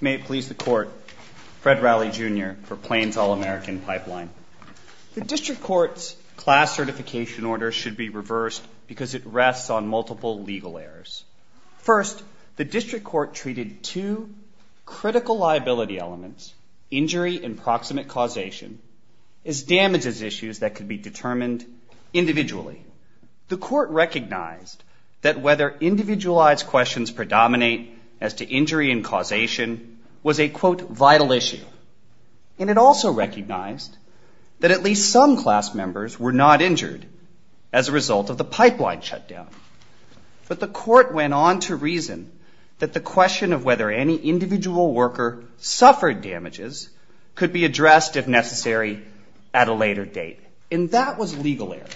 May it please the court, Fred Rowley Jr. for Plains All American Pipeline. The district court's class certification order should be reversed because it rests on multiple legal errors. First, the district court treated two critical liability elements, injury and proximate causation, as damages issues that could be determined individually. Secondly, the court recognized that whether individualized questions predominate as to injury and causation was a, quote, vital issue. And it also recognized that at least some class members were not injured as a result of the pipeline shutdown. But the court went on to reason that the question of whether any individual worker suffered damages could be addressed if necessary at a later date. And that was legal error.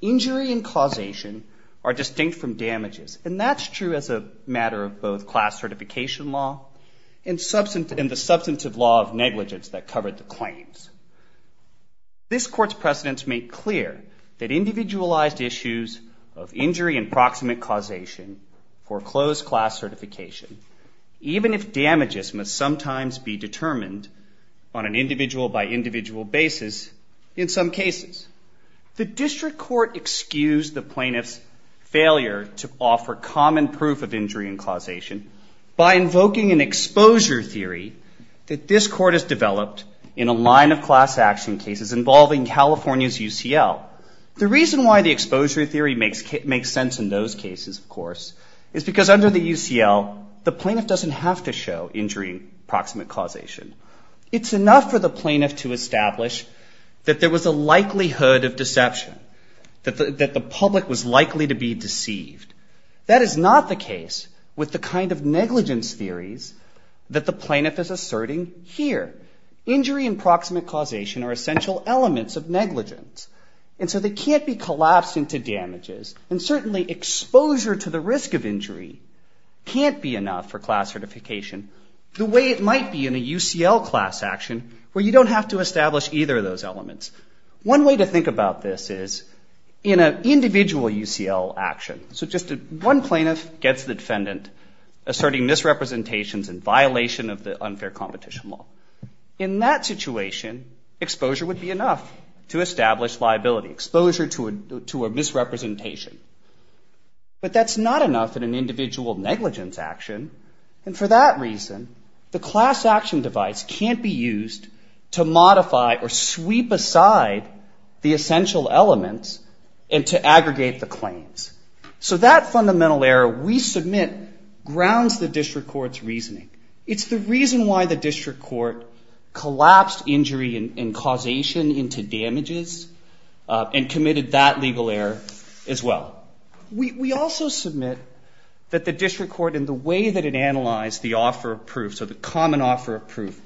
Injury and causation are distinct from damages. And that's true as a matter of both class certification law and the substantive law of negligence that covered the claims. This court's precedents make clear that individualized issues of injury and proximate causation for closed class certification, even if damages must sometimes be determined on an individual-by-individual basis in some cases. The district court excused the plaintiff's failure to offer common proof of injury and causation by invoking an exposure theory that this court has developed in a line of class action cases involving California's UCL. The reason why the exposure theory makes sense in those cases, of course, is because under the UCL, the plaintiff doesn't have to show injury and proximate causation. It's enough for the plaintiff to establish that there was a likelihood of deception, that the public was likely to be deceived. That is not the case with the kind of negligence theories that the plaintiff is asserting here. Injury and proximate causation are essential elements of negligence, and so they can't be collapsed into damages. And certainly exposure to the risk of injury can't be enough for class certification the way it might be in a UCL class action where you don't have to establish either of those elements. One way to think about this is in an individual UCL action. So just one plaintiff gets the defendant asserting misrepresentations in violation of the unfair competition law. In that situation, exposure would be enough to establish liability, exposure to a misrepresentation. But that's not enough in an individual negligence action, and for that reason, the class action device can't be used to modify or sweep aside the essential elements and to aggregate the claims. So that fundamental error we submit grounds the district court's reasoning. It's the reason why the district court collapsed injury and causation into damages and committed that legal error as well. We also submit that the district court, in the way that it analyzed the offer of proof, so the common offer of proof,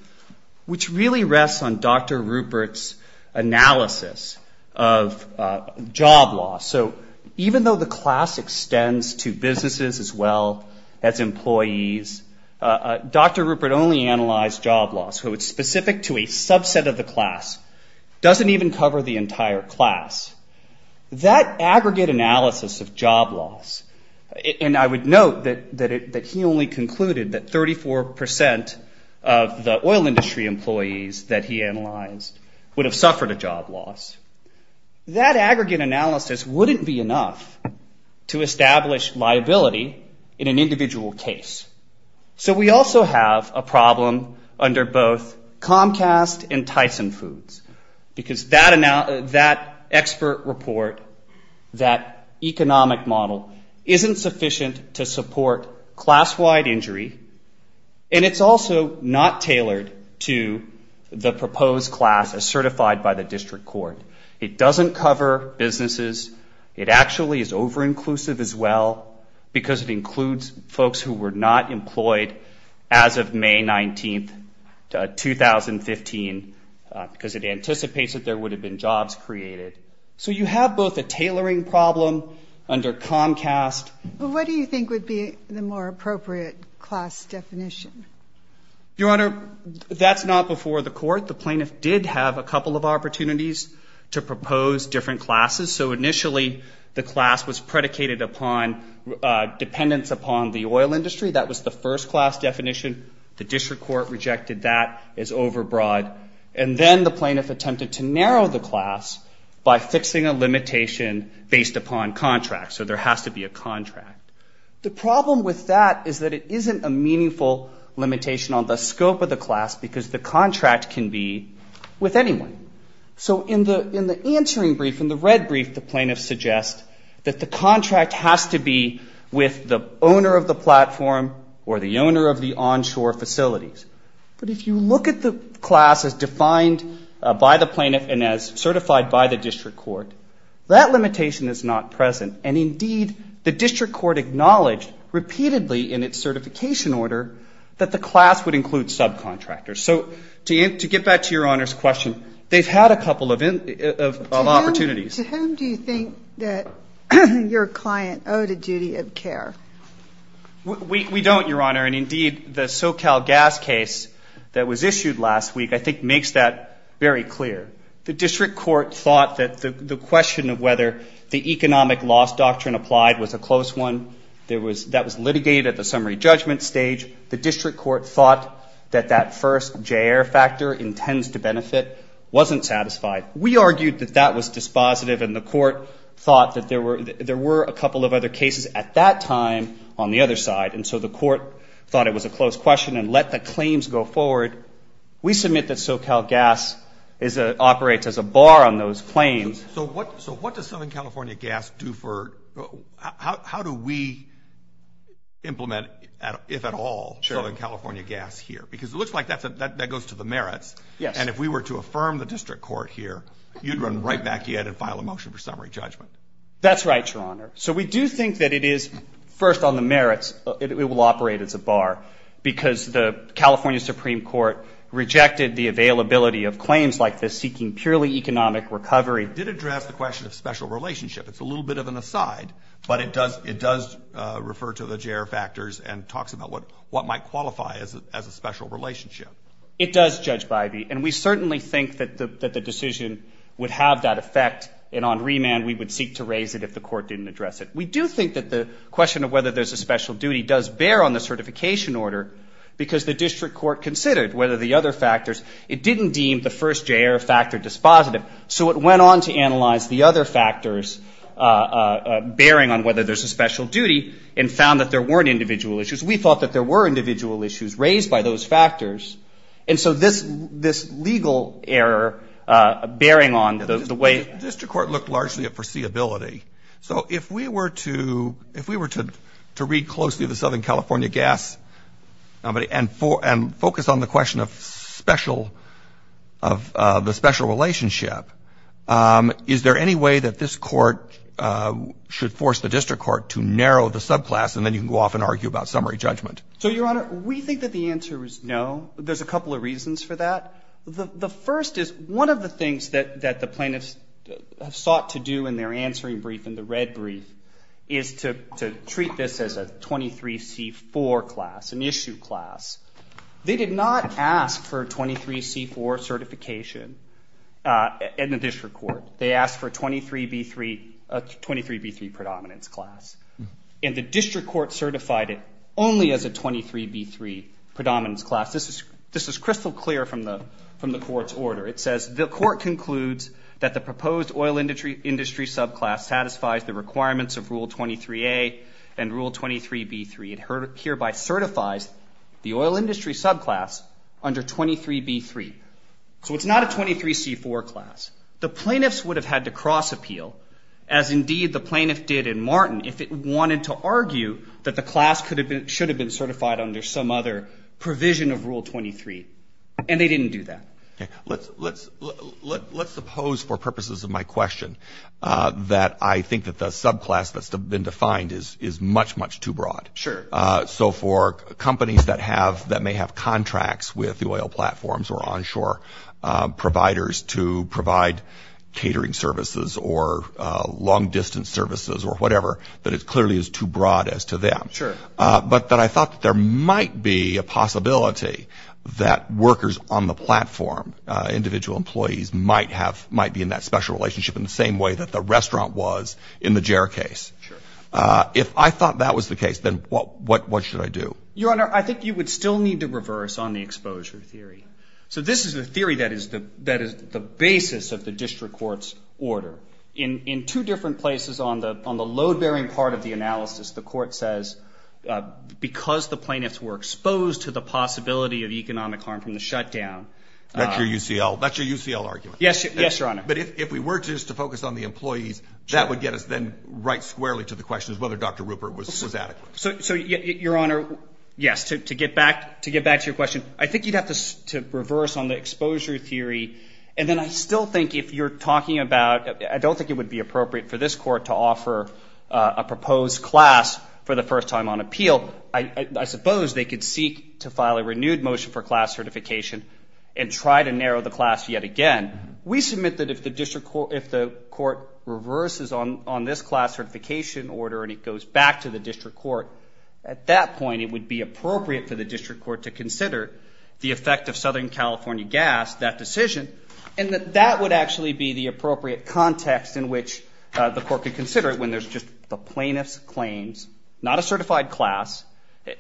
which really rests on Dr. Rupert's analysis of job loss. So even though the class extends to businesses as well as employees, Dr. Rupert only analyzed job loss, so it's specific to a subset of the class, doesn't even cover the entire class. That aggregate analysis of job loss, and I would note that he only concluded that 34% of the oil industry employees that he analyzed would have suffered a job loss. That aggregate analysis wouldn't be enough to establish liability in an individual case. So we also have a problem under both Comcast and Tyson Foods, because that expert report, that economic model, isn't sufficient to support class-wide injury, and it's also not tailored to the proposed class as certified by the district court. It doesn't cover businesses. It actually is over-inclusive as well, because it includes folks who were not employed as of May 19, 2015, because it anticipates that there would have been jobs created. So you have both a tailoring problem under Comcast. Well, what do you think would be the more appropriate class definition? Your Honor, that's not before the court. The plaintiff did have a couple of opportunities to propose different classes. So initially the class was predicated upon dependence upon the oil industry. That was the first class definition. The district court rejected that as overbroad. And then the plaintiff attempted to narrow the class by fixing a limitation based upon contracts. So there has to be a contract. The problem with that is that it isn't a meaningful limitation on the scope of the class, because the contract can be with anyone. So in the answering brief, in the red brief, the plaintiff suggests that the contract has to be with the owner of the platform or the owner of the onshore facilities. But if you look at the class as defined by the plaintiff and as certified by the district court, that limitation is not present. And indeed, the district court acknowledged repeatedly in its certification order that the class would include subcontractors. So to get back to Your Honor's question, they've had a couple of opportunities. To whom do you think that your client owed a duty of care? We don't, Your Honor. And indeed, the SoCal gas case that was issued last week I think makes that very clear. The district court thought that the question of whether the economic loss doctrine applied was a close one. That was litigated at the summary judgment stage. The district court thought that that first J.R. factor, intends to benefit, wasn't satisfied. We argued that that was dispositive, and the court thought that there were a couple of other cases at that time on the other side. And so the court thought it was a close question and let the claims go forward. We submit that SoCal gas operates as a bar on those claims. So what does Southern California Gas do for, how do we implement, if at all, Southern California Gas here? Because it looks like that goes to the merits. Yes. And if we were to affirm the district court here, you'd run right back in and file a motion for summary judgment. That's right, Your Honor. So we do think that it is, first on the merits, it will operate as a bar, because the California Supreme Court rejected the availability of claims like this seeking purely economic recovery. It did address the question of special relationship. It's a little bit of an aside, but it does refer to the J.R. factors and talks about what might qualify as a special relationship. It does, Judge Bivey, and we certainly think that the decision would have that effect, and on remand we would seek to raise it if the court didn't address it. We do think that the question of whether there's a special duty does bear on the certification order, because the district court considered whether the other factors, it didn't deem the first J.R. factor dispositive, so it went on to analyze the other factors bearing on whether there's a special duty and found that there weren't individual issues. We thought that there were individual issues raised by those factors, and so this legal error bearing on the way the district court looked largely at foreseeability. So if we were to read closely the Southern California gas and focus on the question of special relationship, is there any way that this court should force the district court to narrow the subclass and then you can go off and argue about summary judgment? So, Your Honor, we think that the answer is no. There's a couple of reasons for that. The first is one of the things that the plaintiffs have sought to do in their answering brief, in the red brief, is to treat this as a 23C4 class, an issue class. They did not ask for a 23C4 certification in the district court. They asked for a 23B3 predominance class, and the district court certified it only as a 23B3 predominance class. This is crystal clear from the court's order. It says the court concludes that the proposed oil industry subclass satisfies the requirements of Rule 23A and Rule 23B3. It hereby certifies the oil industry subclass under 23B3. So it's not a 23C4 class. The plaintiffs would have had to cross-appeal, as indeed the plaintiff did in Martin, if it wanted to argue that the class should have been certified under some other provision of Rule 23, and they didn't do that. Let's suppose, for purposes of my question, that I think that the subclass that's been defined is much, much too broad. Sure. So for companies that may have contracts with the oil platforms or onshore providers to provide catering services or long-distance services or whatever, that it clearly is too broad as to them. Sure. But that I thought that there might be a possibility that workers on the platform, individual employees, might be in that special relationship in the same way that the restaurant was in the JARE case. Sure. If I thought that was the case, then what should I do? Your Honor, I think you would still need to reverse on the exposure theory. So this is the theory that is the basis of the district court's order. In two different places on the load-bearing part of the analysis, the court says, because the plaintiffs were exposed to the possibility of economic harm from the shutdown. Yes, Your Honor. But if we were just to focus on the employees, that would get us then right squarely to the question of whether Dr. Rupert was adequate. So, Your Honor, yes, to get back to your question, I think you'd have to reverse on the exposure theory. And then I still think if you're talking about, I don't think it would be appropriate for this court to offer a proposed class for the first time on appeal. I suppose they could seek to file a renewed motion for class certification and try to narrow the class yet again. We submit that if the court reverses on this class certification order and it goes back to the district court, at that point it would be appropriate for the district court to consider the effect of Southern California gas, that decision, and that that would actually be the appropriate context in which the court could consider it when there's just the plaintiff's claims, not a certified class,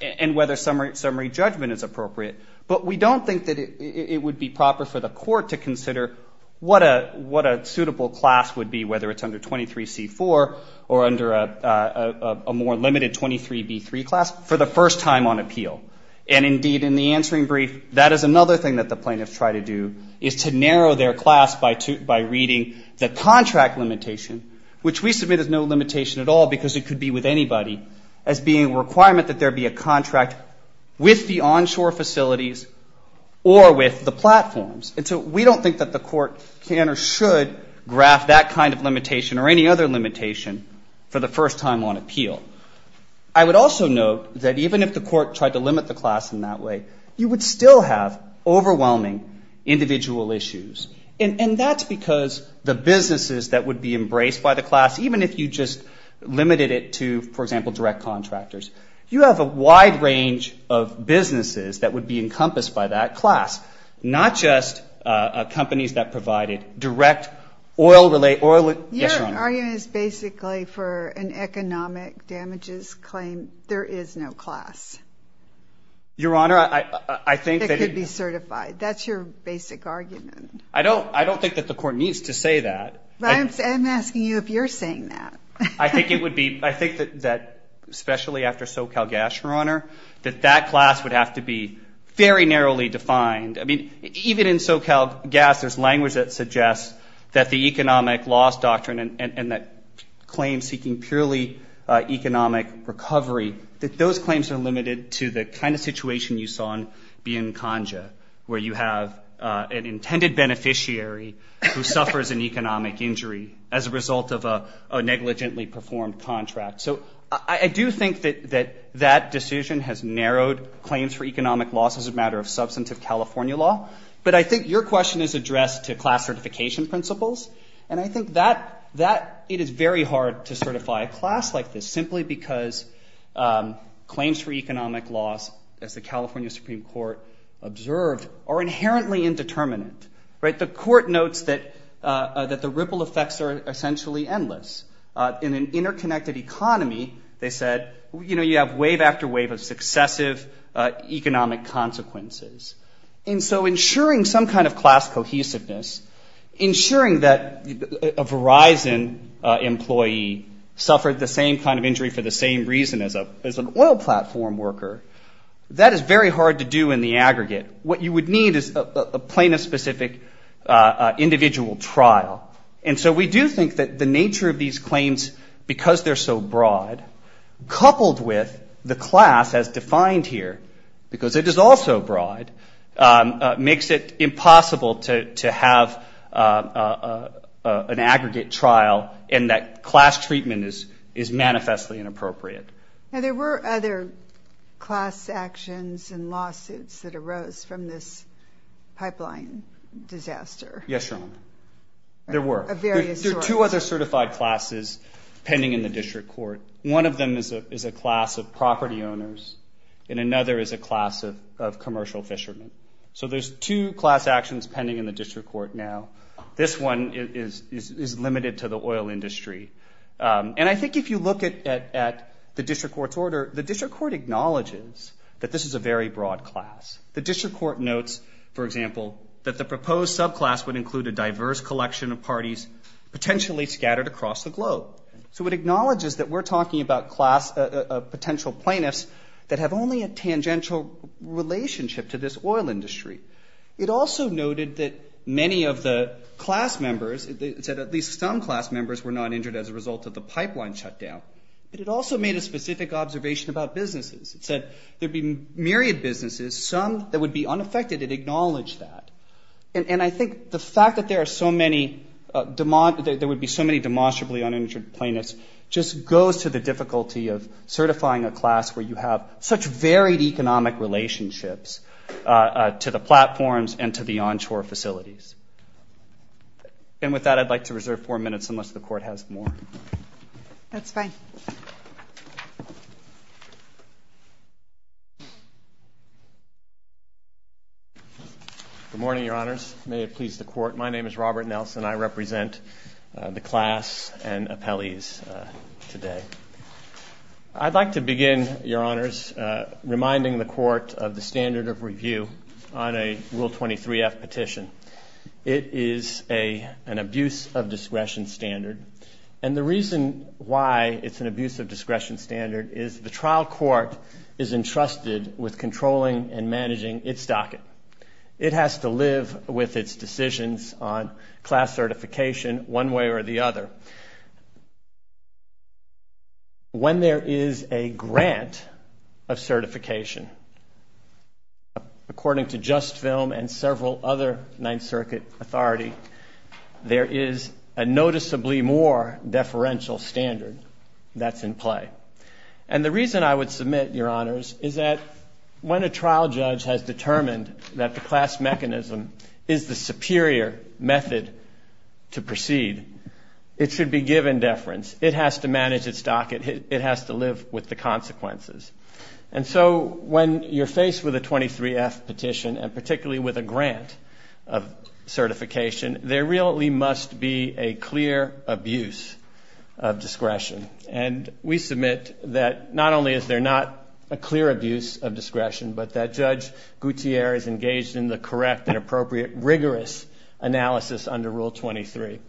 and whether summary judgment is appropriate. But we don't think that it would be proper for the court to consider what a suitable class would be, whether it's under 23C4 or under a more limited 23B3 class, for the first time on appeal. And, indeed, in the answering brief, that is another thing that the plaintiffs try to do, is to narrow their class by reading the contract limitation, which we submit is no limitation at all because it could be with anybody, as being a requirement that there be a contract with the onshore facilities or with the platforms. And so we don't think that the court can or should graph that kind of limitation or any other limitation for the first time on appeal. I would also note that even if the court tried to limit the class in that way, you would still have overwhelming individual issues. And that's because the businesses that would be embraced by the class, even if you just limited it to, for example, direct contractors, you have a wide range of businesses that would be encompassed by that class, not just companies that provided direct oil-related or... Yes, Your Honor. Your argument is basically for an economic damages claim. There is no class. Your Honor, I think that... That could be certified. That's your basic argument. I don't think that the court needs to say that. I'm asking you if you're saying that. I think it would be, I think that especially after SoCalGas, Your Honor, that that class would have to be very narrowly defined. I mean, even in SoCalGas, there's language that suggests that the economic loss doctrine and that claim seeking purely economic recovery, that those claims are limited to the kind of situation you saw in Biancongia, where you have an intended beneficiary who suffers an economic injury as a result of a negligently performed contract. So I do think that that decision has narrowed claims for economic loss as a matter of substantive California law. But I think your question is addressed to class certification principles. And I think that it is very hard to certify a class like this simply because claims for economic loss, as the California Supreme Court observed, are inherently indeterminate. The court notes that the ripple effects are essentially endless. In an interconnected economy, they said, you know, you have wave after wave of successive economic consequences. And so ensuring some kind of class cohesiveness, ensuring that a Verizon employee suffered the same kind of injury for the same reason as an oil platform worker, that is very hard to do in the aggregate. What you would need is a plaintiff-specific individual trial. And so we do think that the nature of these claims, because they're so broad, coupled with the class as defined here, because it is also broad, makes it impossible to have an aggregate trial and that class treatment is manifestly inappropriate. Now, there were other class actions and lawsuits that arose from this pipeline disaster. Yes, Your Honor. There were. Of various sorts. There are two other certified classes pending in the district court. One of them is a class of property owners and another is a class of commercial fishermen. So there's two class actions pending in the district court now. This one is limited to the oil industry. And I think if you look at the district court's order, the district court acknowledges that this is a very broad class. The district court notes, for example, that the proposed subclass would include a diverse collection of parties potentially scattered across the globe. So it acknowledges that we're talking about class of potential plaintiffs that have only a tangential relationship to this oil industry. It also noted that many of the class members, it said at least some class members were not injured as a result of the pipeline shutdown. But it also made a specific observation about businesses. It said there'd be myriad businesses, some that would be unaffected. It acknowledged that. And I think the fact that there are so many, there would be so many demonstrably uninjured plaintiffs just goes to the difficulty of certifying a class where you have such varied economic relationships to the platforms and to the onshore facilities. And with that, I'd like to reserve four minutes unless the court has more. Good morning, Your Honors. May it please the court. My name is Robert Nelson. I represent the class and appellees today. I'd like to begin, Your Honors, reminding the court of the standard of review on a Rule 23F petition. It is an abuse of discretion standard. And the reason why it's an abuse of discretion standard is the trial court is entrusted with controlling and managing its docket. It has to live with its decisions on class certification one way or the other. When there is a grant of certification, according to JustFilm and several other Ninth Circuit authority, there is a noticeably more deferential standard that's in play. And the reason I would submit, Your Honors, is that when a trial judge has determined that the class mechanism is the superior method to proceed, it should be given deference. It has to manage its docket. It has to live with the consequences. And so when you're faced with a 23F petition, and particularly with a grant of certification, there really must be a clear abuse of discretion and we submit that not only is there not a clear abuse of discretion, but that Judge Gouthiere is engaged in the correct and appropriate, rigorous analysis under Rule 23.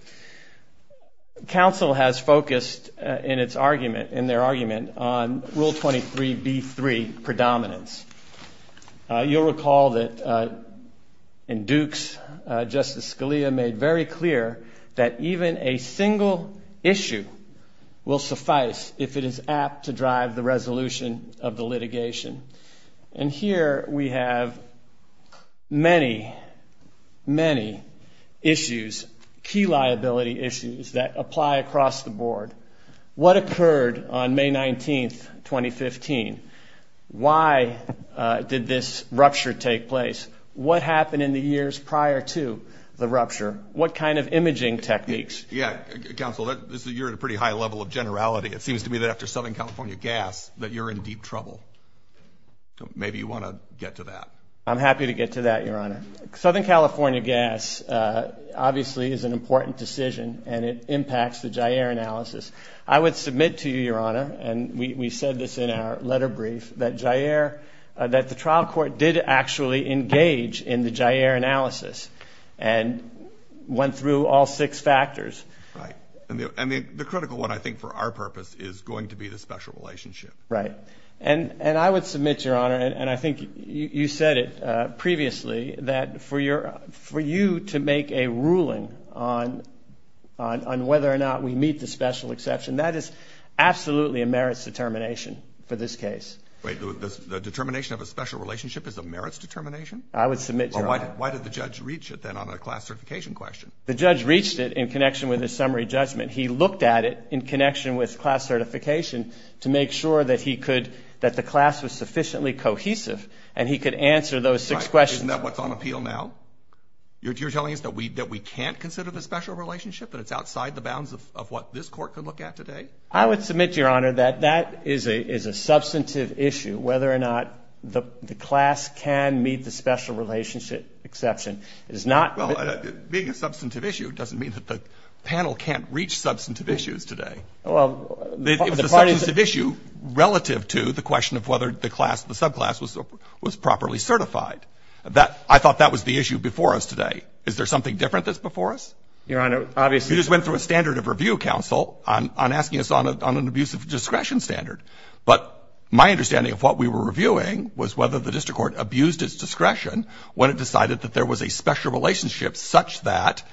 Counsel has focused in their argument on Rule 23B3, predominance. You'll recall that in Dukes, Justice Scalia made very clear that even a single clause in Rule 23B3, predominance, does not mean that a single issue will suffice if it is apt to drive the resolution of the litigation. And here we have many, many issues, key liability issues, that apply across the board. What occurred on May 19, 2015? Why did this rupture take place? What happened in the years prior to the rupture? What kind of imaging techniques? Yeah, Counsel, you're at a pretty high level of generality. It seems to me that after Southern California Gas, that you're in deep trouble. Maybe you want to get to that. I'm happy to get to that, Your Honor. Southern California Gas obviously is an important decision, and it impacts the Jair analysis. I would submit to you, Your Honor, and we said this in our letter brief, that Jair, that the trial court did actually engage in the Jair analysis and went through all six factors. Right. And the critical one, I think, for our purpose, is going to be the special relationship. Right. And I would submit, Your Honor, and I think you said it previously, that for you to make a ruling on whether or not we meet the special exception, that is absolutely a merits determination for this case. Wait. The determination of a special relationship is a merits determination? I would submit, Your Honor. Well, why did the judge reach it, then, on a class certification question? The judge reached it in connection with his summary judgment. He looked at it in connection with class certification to make sure that he could, that the class was sufficiently cohesive, and he could answer those six questions. Right. Isn't that what's on appeal now? You're telling us that we can't consider the special relationship, that it's outside the bounds of what this court could look at today? I would submit, Your Honor, that that is a substantive issue, whether or not the class can meet the special relationship exception. It is not... Well, being a substantive issue doesn't mean that the panel can't reach substantive issues today. Well, the parties... It was a substantive issue relative to the question of whether the class, the subclass, was properly certified. I thought that was the issue before us today. Is there something different that's before us? Your Honor, obviously... You just went through a standard of review, counsel, on asking us on an abuse of discretion standard. But my understanding of what we were reviewing was whether the district court abused its discretion when it decided that there was a special relationship such that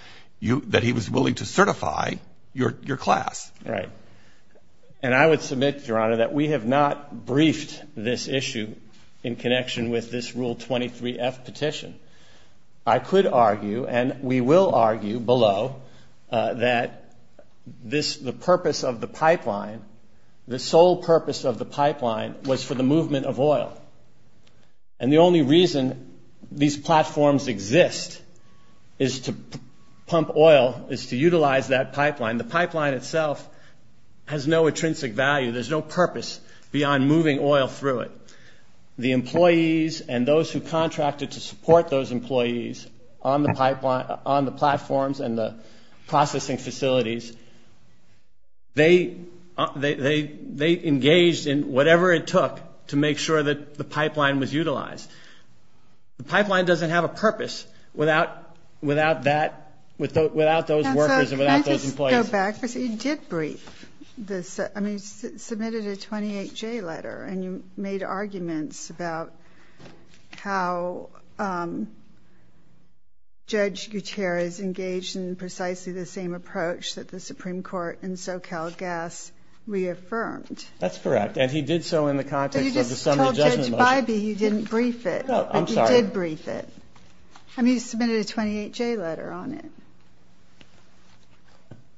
he was willing to certify your class. Right. And I would submit, Your Honor, that we have not briefed this issue in connection with this Rule 23F petition. I could argue, and we will argue below, that the purpose of the pipeline, the sole purpose of the pipeline, was for the movement of oil. And the only reason these platforms exist is to pump oil, is to utilize that pipeline. The pipeline itself has no intrinsic value. There's no purpose beyond moving oil through it. The employees and those who contracted to support those employees on the platforms and the processing facilities, they engaged in whatever it took to make sure that the pipeline was utilized. The pipeline doesn't have a purpose without those workers or without those employees. Counsel, can I just go back? Because you did brief this. I mean, you submitted a 28J letter, and you made arguments about how Judge Gutierrez engaged in precisely the same approach that the Supreme Court in SoCalGas reaffirmed. That's correct, and he did so in the context of the summary judgment motion. But you just told Judge Bybee you didn't brief it, but you did brief it. I mean, you submitted a 28J letter on it.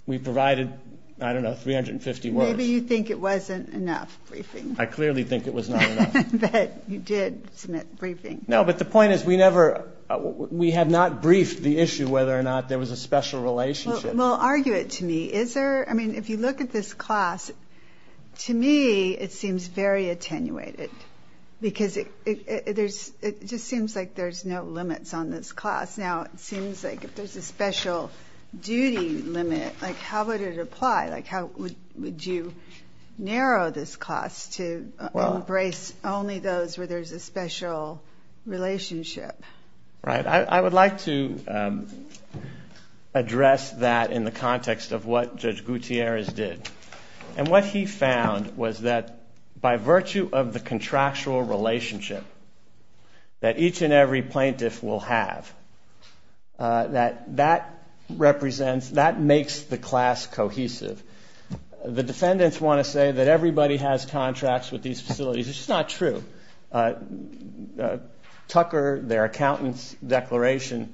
We provided, I don't know, 350 words. Maybe you think it wasn't enough briefing. I clearly think it was not enough. But you did submit briefing. No, but the point is we have not briefed the issue whether or not there was a special relationship. Well, argue it to me. I mean, if you look at this class, to me it seems very attenuated, because it just seems like there's no limits on this class. Now, it seems like if there's a special duty limit, how would it apply? Like, how would you narrow this class to embrace only those where there's a special relationship? I would like to address that in the context of what Judge Gutierrez did. And what he found was that by virtue of the contractual relationship that each and every plaintiff will have, that represents, that makes the class cohesive. The defendants want to say that everybody has contracts with these facilities. It's just not true. Tucker, their accountant's declaration,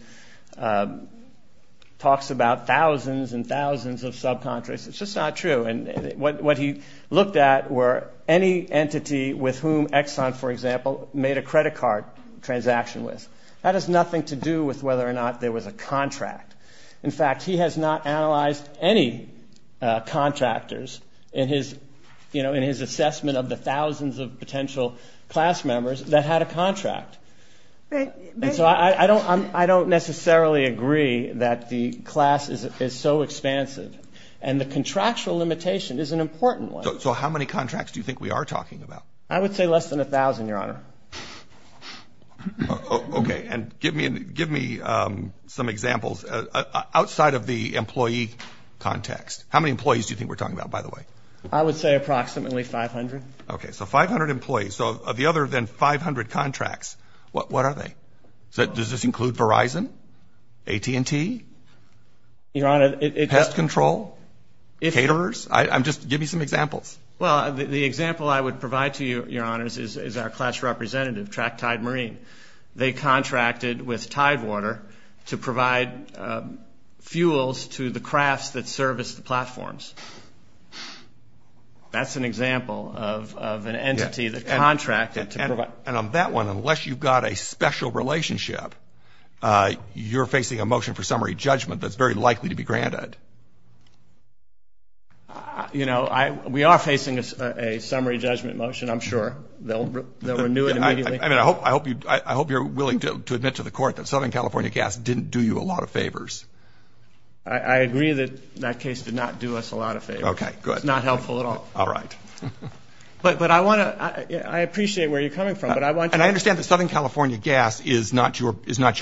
talks about thousands and thousands of subcontracts. It's just not true. And what he looked at were any entity with whom Exxon, for example, made a credit card transaction with. That has nothing to do with whether or not there was a contract. In fact, he has not analyzed any contractors in his assessment of the thousands of potential class members that had a contract. And so I don't necessarily agree that the class is so expansive. And the contractual limitation is an important one. So how many contracts do you think we are talking about? I would say less than a thousand, Your Honor. Okay. And give me some examples outside of the employee context. How many employees do you think we're talking about, by the way? I would say approximately 500. Okay. So 500 employees. So of the other than 500 contracts, what are they? Does this include Verizon, AT&T, pest control, caterers? Just give me some examples. Well, the example I would provide to you, Your Honors, is our class representative, Tractide Marine. They contracted with Tidewater to provide fuels to the crafts that service the platforms. That's an example of an entity that contracted to provide. And on that one, unless you've got a special relationship, you're facing a motion for summary judgment that's very likely to be granted. You know, we are facing a summary judgment motion, I'm sure. They'll renew it immediately. I mean, I hope you're willing to admit to the court that Southern California Gas didn't do you a lot of favors. I agree that that case did not do us a lot of favors. It's not helpful at all. All right. But I want to I appreciate where you're coming from. And I understand that Southern California Gas is not your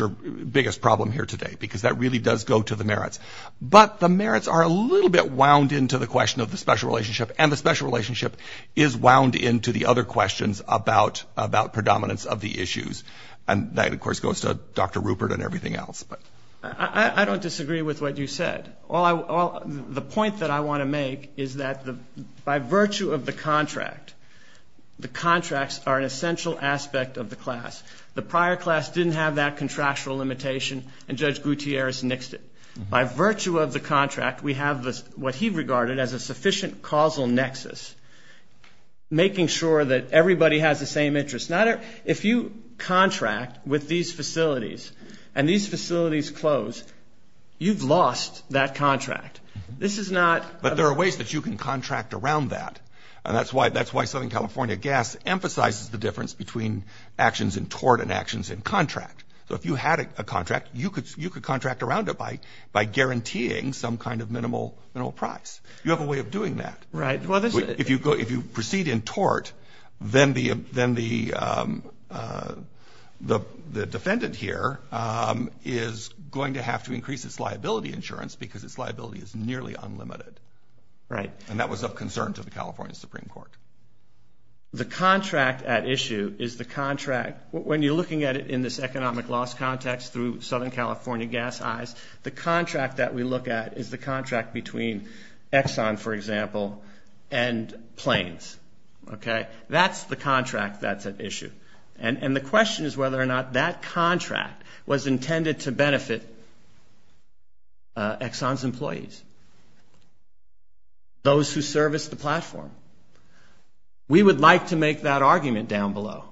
biggest problem here today, because that really does go to the merits. But the merits are a little bit wound into the question of the special relationship. And the special relationship is wound into the other questions about predominance of the issues. And that, of course, goes to Dr. Rupert and everything else. I don't disagree with what you said. The point that I want to make is that by virtue of the contract, the contracts are an essential aspect of the class. The prior class didn't have that contractual limitation, and Judge Gutierrez nixed it. By virtue of the contract, we have what he regarded as a sufficient causal nexus, making sure that everybody has the same interest. Now, if you contract with these facilities and these facilities close, you've lost that contract. But there are ways that you can contract around that. And that's why Southern California Gas emphasizes the difference between actions in tort and actions in contract. So if you had a contract, you could contract around it by guaranteeing some kind of minimal price. You have a way of doing that. Right. If you proceed in tort, then the defendant here is going to have to increase its liability insurance because its liability is nearly unlimited. Right. And that was of concern to the California Supreme Court. The contract at issue is the contract. When you're looking at it in this economic loss context through Southern California Gas eyes, the contract that we look at is the contract between Exxon, for example, and Planes. That's the contract that's at issue. And the question is whether or not that contract was intended to benefit Exxon's employees, those who service the platform. We would like to make that argument down below.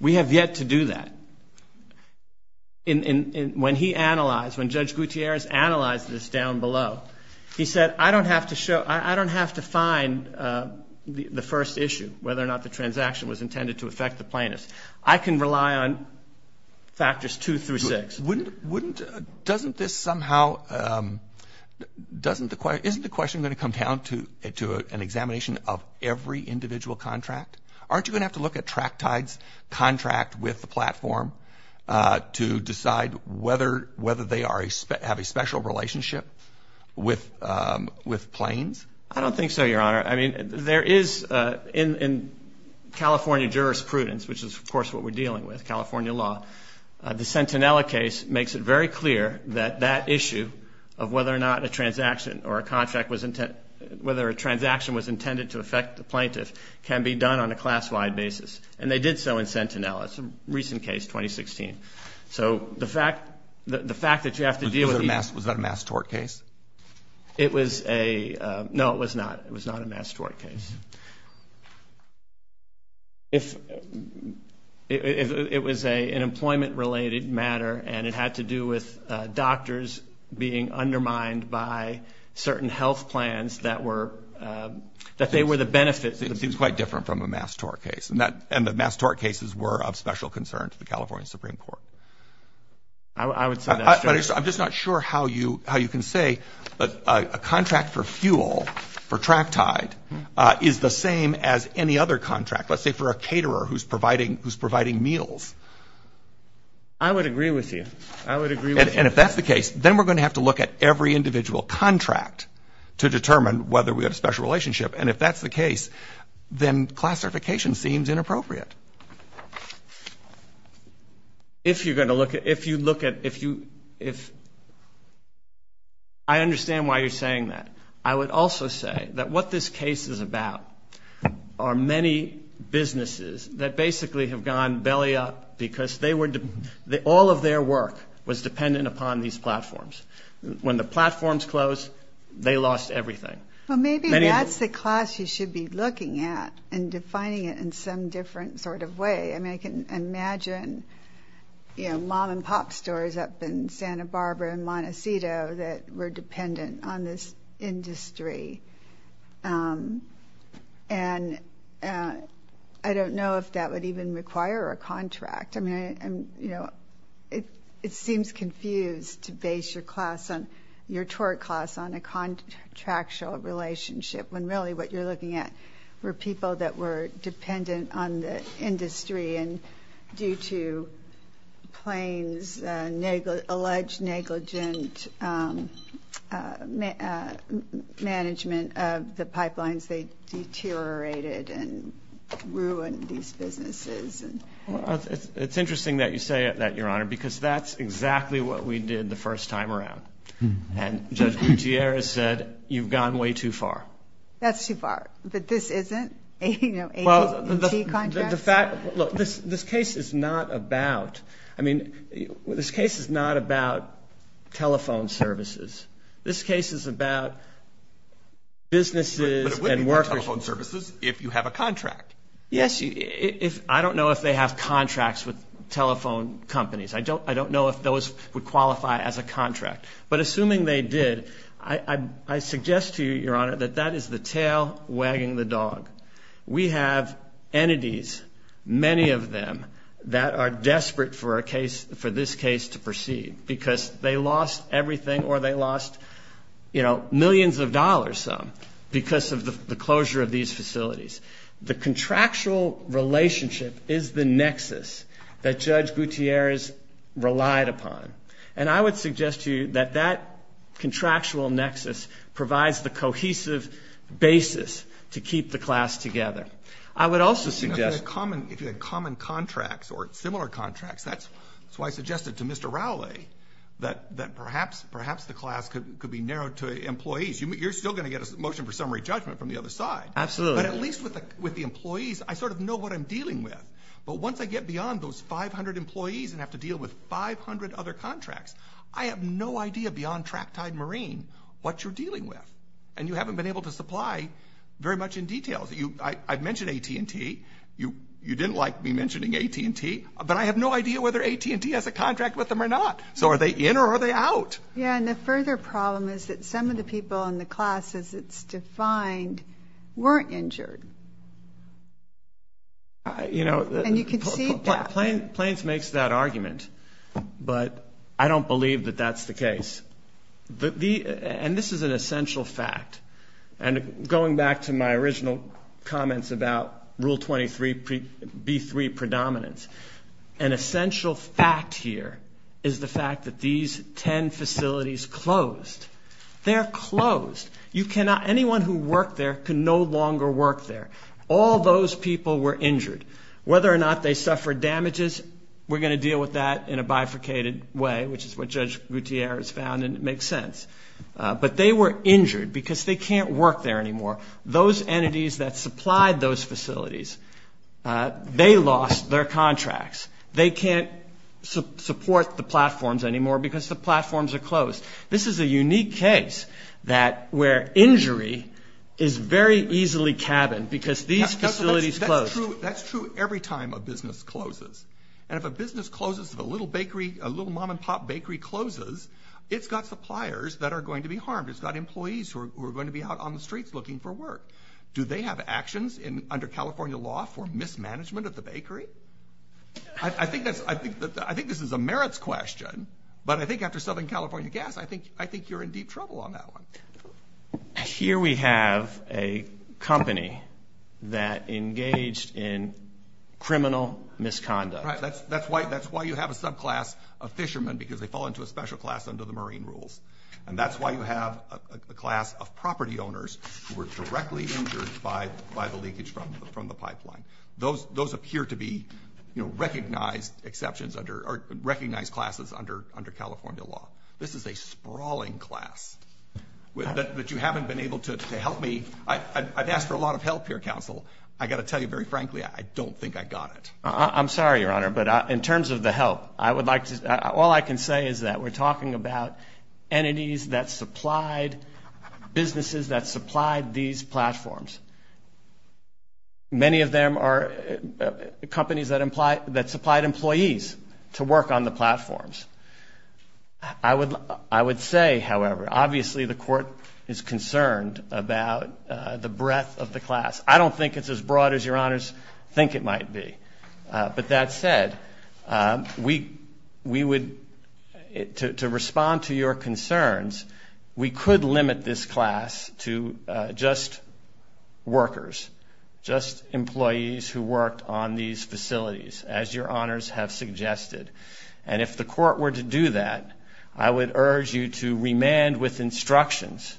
We have yet to do that. When he analyzed, when Judge Gutierrez analyzed this down below, he said, I don't have to find the first issue, whether or not the transaction was intended to affect the plaintiffs. I can rely on factors two through six. Wouldn't, wouldn't, doesn't this somehow, doesn't the question, isn't the question going to come down to an examination of every individual contract? Aren't you going to have to look at Tractide's contract with the platform to decide whether, whether they are, have a special relationship with, with Planes? I don't think so, Your Honor. I mean, there is in, in California jurisprudence, which is of course what we're dealing with, California law, the Sentinella case makes it very clear that that issue of whether or not a transaction or a contract was, whether a transaction was intended to affect the plaintiff can be done on a class-wide basis. And they did so in Sentinella. It's a recent case, 2016. So the fact, the fact that you have to deal with. Was that a mass tort case? It was a, no, it was not. It was not a mass tort case. If, if it was an employment-related matter and it had to do with doctors being undermined by certain health plans that were, that they were the benefits. It was quite different from a mass tort case. And that, and the mass tort cases were of special concern to the California Supreme Court. I would say that's true. But I'm just not sure how you, how you can say a contract for fuel for Tractide is the same as any other contract. Let's say for a caterer who's providing, who's providing meals. I would agree with you. And if that's the case, then we're going to have to look at every individual contract to determine whether we have a special relationship. And if that's the case, then classification seems inappropriate. If you're going to look at, if you look at, if you, if, I understand why you're saying that. I would also say that what this case is about are many businesses that basically have gone belly up because they were, all of their work was dependent upon these platforms. When the platforms closed, they lost everything. Well, maybe that's the class you should be looking at and defining it in some different sort of way. I mean, I can imagine, you know, mom and pop stores up in Santa Barbara and Montecito that were dependent on this industry. And I don't know if that would even require a contract. I mean, you know, it seems confused to base your class on, your tort class on a contractual relationship when really what you're looking at were people that were dependent on the industry. And due to planes, alleged negligent management of the pipelines, they deteriorated and ruined these businesses. It's interesting that you say that, Your Honor, because that's exactly what we did the first time around. And Judge Gutierrez said you've gone way too far. That's too far. But this isn't? This case is not about, I mean, this case is not about telephone services. This case is about businesses and workers. You can't have telephone services if you have a contract. Yes. If I don't know if they have contracts with telephone companies, I don't I don't know if those would qualify as a contract. But assuming they did, I suggest to you, Your Honor, that that is the tail wagging the dog. We have entities, many of them that are desperate for a case for this case to proceed because they lost everything or they lost, you know, millions of dollars. Some because of the closure of these facilities. The contractual relationship is the nexus that Judge Gutierrez relied upon. And I would suggest to you that that contractual nexus provides the cohesive basis to keep the class together. I would also suggest a common if you had common contracts or similar contracts. That's why I suggested to Mr. Rowley that that perhaps perhaps the class could be narrowed to employees. You're still going to get a motion for summary judgment from the other side. Absolutely. But at least with the employees, I sort of know what I'm dealing with. But once I get beyond those 500 employees and have to deal with 500 other contracts, I have no idea beyond Tracktide Marine what you're dealing with. And you haven't been able to supply very much in detail. I mentioned AT&T. You didn't like me mentioning AT&T, but I have no idea whether AT&T has a contract with them or not. So are they in or are they out? Yeah, and the further problem is that some of the people in the classes it's defined weren't injured. And you can see that. Plains makes that argument, but I don't believe that that's the case. And this is an essential fact. And going back to my original comments about Rule 23B3 predominance, an essential fact here is the fact that these 10 facilities closed. They're closed. Anyone who worked there can no longer work there. All those people were injured. Whether or not they suffered damages, we're going to deal with that in a bifurcated way, which is what Judge Gouthiere has found, and it makes sense. But they were injured because they can't work there anymore. Those entities that supplied those facilities, they lost their contracts. They can't support the platforms anymore because the platforms are closed. This is a unique case where injury is very easily cabined because these facilities closed. That's true every time a business closes. And if a business closes, if a little mom and pop bakery closes, it's got suppliers that are going to be harmed. It's got employees who are going to be out on the streets looking for work. Do they have actions under California law for mismanagement of the bakery? I think this is a merits question, but I think after Southern California Gas, I think you're in deep trouble on that one. Here we have a company that engaged in criminal misconduct. Right. That's why you have a subclass of fishermen because they fall into a special class under the marine rules. And that's why you have a class of property owners who were directly injured by the leakage from the pipeline. Those appear to be recognized classes under California law. This is a sprawling class. But you haven't been able to help me. I've asked for a lot of help here, counsel. I've got to tell you very frankly, I don't think I got it. I'm sorry, Your Honor, but in terms of the help, all I can say is that we're talking about entities that supplied businesses that supplied these platforms. Many of them are companies that supplied employees to work on the platforms. I would say, however, obviously the court is concerned about the breadth of the class. I don't think it's as broad as Your Honors think it might be. But that said, to respond to your concerns, we could limit this class to just workers, just employees who worked on these facilities, as Your Honors have suggested. And if the court were to do that, I would urge you to remand with instructions.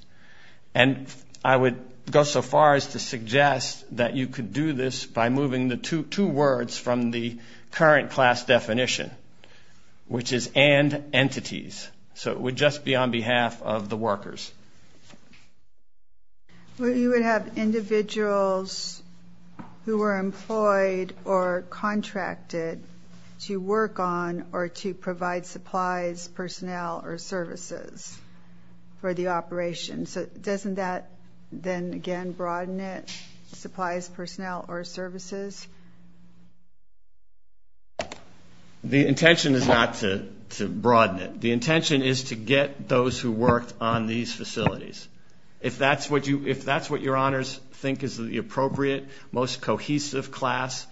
And I would go so far as to suggest that you could do this by moving the two words from the current class definition, which is and entities. So it would just be on behalf of the workers. You would have individuals who were employed or contracted to work on or to provide supplies, personnel, or services for the operations. So doesn't that then again broaden it, supplies, personnel, or services? The intention is not to broaden it. The intention is to get those who worked on these facilities. If that's what Your Honors think is the appropriate, most cohesive class,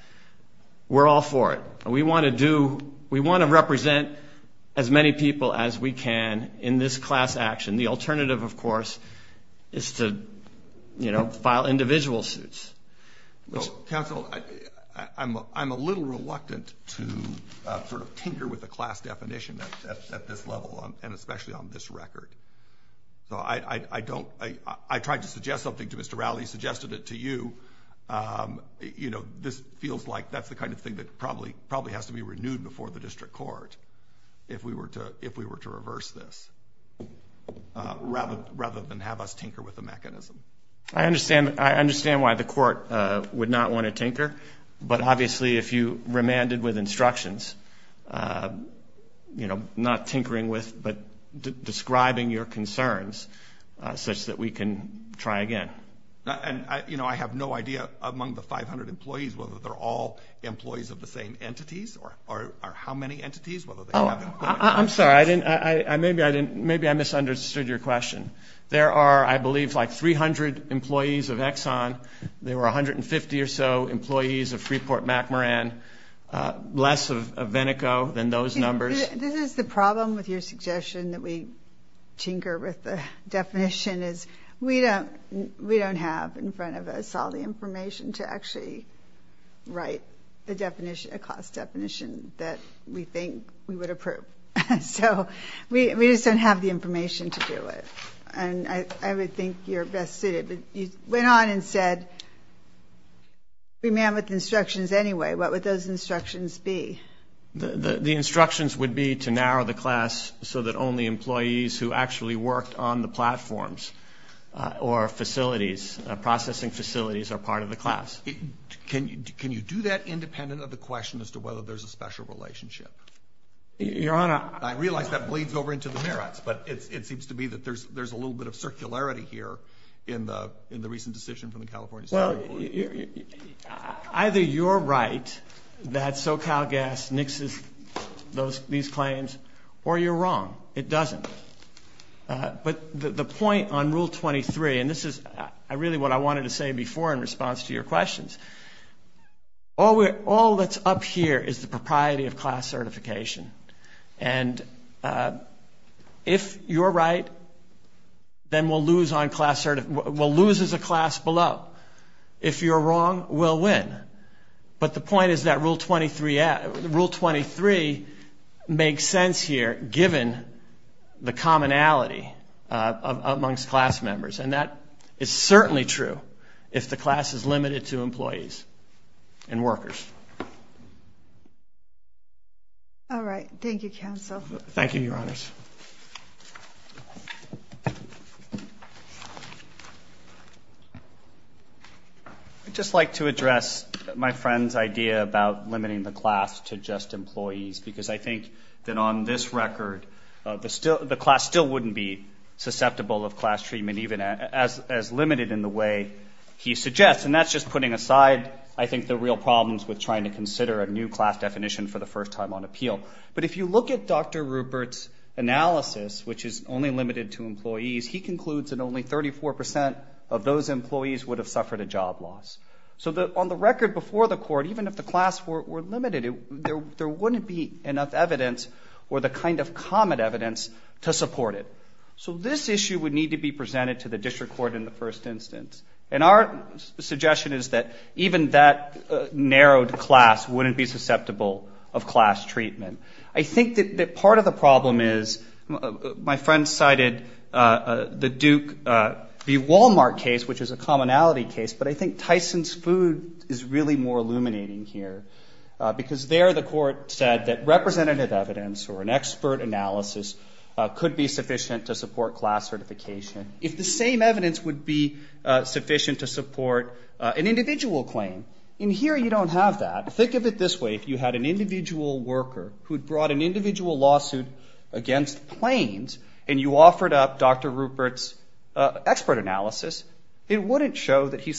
we're all for it. We want to represent as many people as we can in this class action. The alternative, of course, is to file individual suits. Well, counsel, I'm a little reluctant to sort of tinker with the class definition at this level and especially on this record. So I tried to suggest something to Mr. Rowley, suggested it to you. This feels like that's the kind of thing that probably has to be renewed before the district court if we were to reverse this. Rather than have us tinker with the mechanism. I understand why the court would not want to tinker, but obviously if you remanded with instructions, you know, not tinkering with, but describing your concerns such that we can try again. And, you know, I have no idea among the 500 employees whether they're all employees of the same entities or how many entities. Oh, I'm sorry. I didn't. I maybe I didn't. Maybe I misunderstood your question. There are, I believe, like 300 employees of Exxon. There were 150 or so employees of Freeport-McMoran. Less of Veneco than those numbers. This is the problem with your suggestion that we tinker with the definition is we don't have in front of us all the information to actually write a definition, a class definition that we think we would approve. So we just don't have the information to do it. And I would think you're best suited, but you went on and said remand with instructions anyway. What would those instructions be? The instructions would be to narrow the class so that only employees who actually worked on the platforms or facilities, processing facilities, are part of the class. Can you do that independent of the question as to whether there's a special relationship? Your Honor. I realize that bleeds over into the merits, but it seems to me that there's a little bit of circularity here in the recent decision from the California Supreme Court. Either you're right that SoCalGas nixes these claims, or you're wrong. It doesn't. But the point on Rule 23, and this is really what I wanted to say before in response to your questions. All that's up here is the propriety of class certification. And if you're right, then we'll lose as a class below. If you're wrong, we'll win. But the point is that Rule 23 makes sense here, given the commonality amongst class members. And that is certainly true if the class is limited to employees and workers. Thank you, Your Honors. I'd just like to address my friend's idea about limiting the class to just employees, because I think that on this record, the class still is limited in the way he suggests. And that's just putting aside, I think, the real problems with trying to consider a new class definition for the first time on appeal. But if you look at Dr. Rupert's analysis, which is only limited to employees, he concludes that only 34 percent of those employees would have suffered a job loss. So on the record before the Court, even if the class were limited, there wouldn't be enough evidence or the kind of common evidence to support it. So this issue would need to be presented to the District Court in the first instance. And our suggestion is that even that narrowed class wouldn't be susceptible of class treatment. I think that part of the problem is, my friend cited the Duke v. Walmart case, which is a commonality case, but I think Tyson's food is really more illuminating here. Because there the Court said that representative evidence or an expert analysis could be sufficient to support class certification. If the same evidence would be sufficient to support an individual claim, in here you don't have that. Think of it this way. If you had an individual worker who had brought an individual lawsuit against planes, and you offered up Dr. Rupert's expert analysis, it wouldn't show that he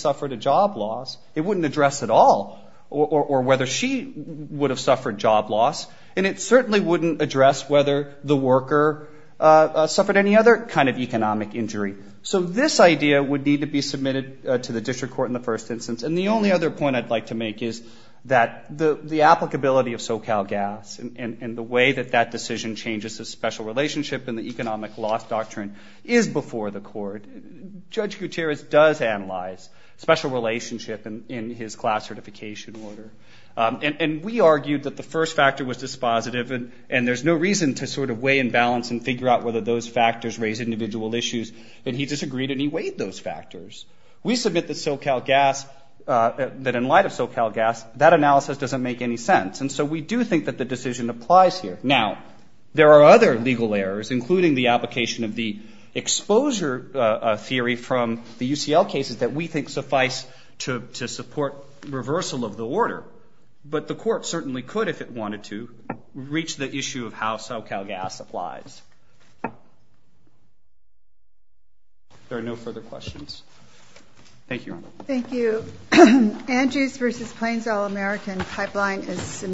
or she would have suffered job loss, and it certainly wouldn't address whether the worker suffered any other kind of economic injury. So this idea would need to be submitted to the District Court in the first instance. And the only other point I'd like to make is that the applicability of SoCalGas and the way that that decision changes the special relationship in the economic loss doctrine is before the Court. Judge Gutierrez does analyze special relationship in his class certification order. And we argued that the first factor was dispositive, and there's no reason to sort of weigh and balance and figure out whether those factors raise individual issues, and he disagreed and he weighed those factors. We submit that SoCalGas, that in light of SoCalGas, that analysis doesn't make any sense. And so we do think that the decision applies here. We do have a theory from the UCL cases that we think suffice to support reversal of the order. But the Court certainly could, if it wanted to, reach the issue of how SoCalGas applies. There are no further questions.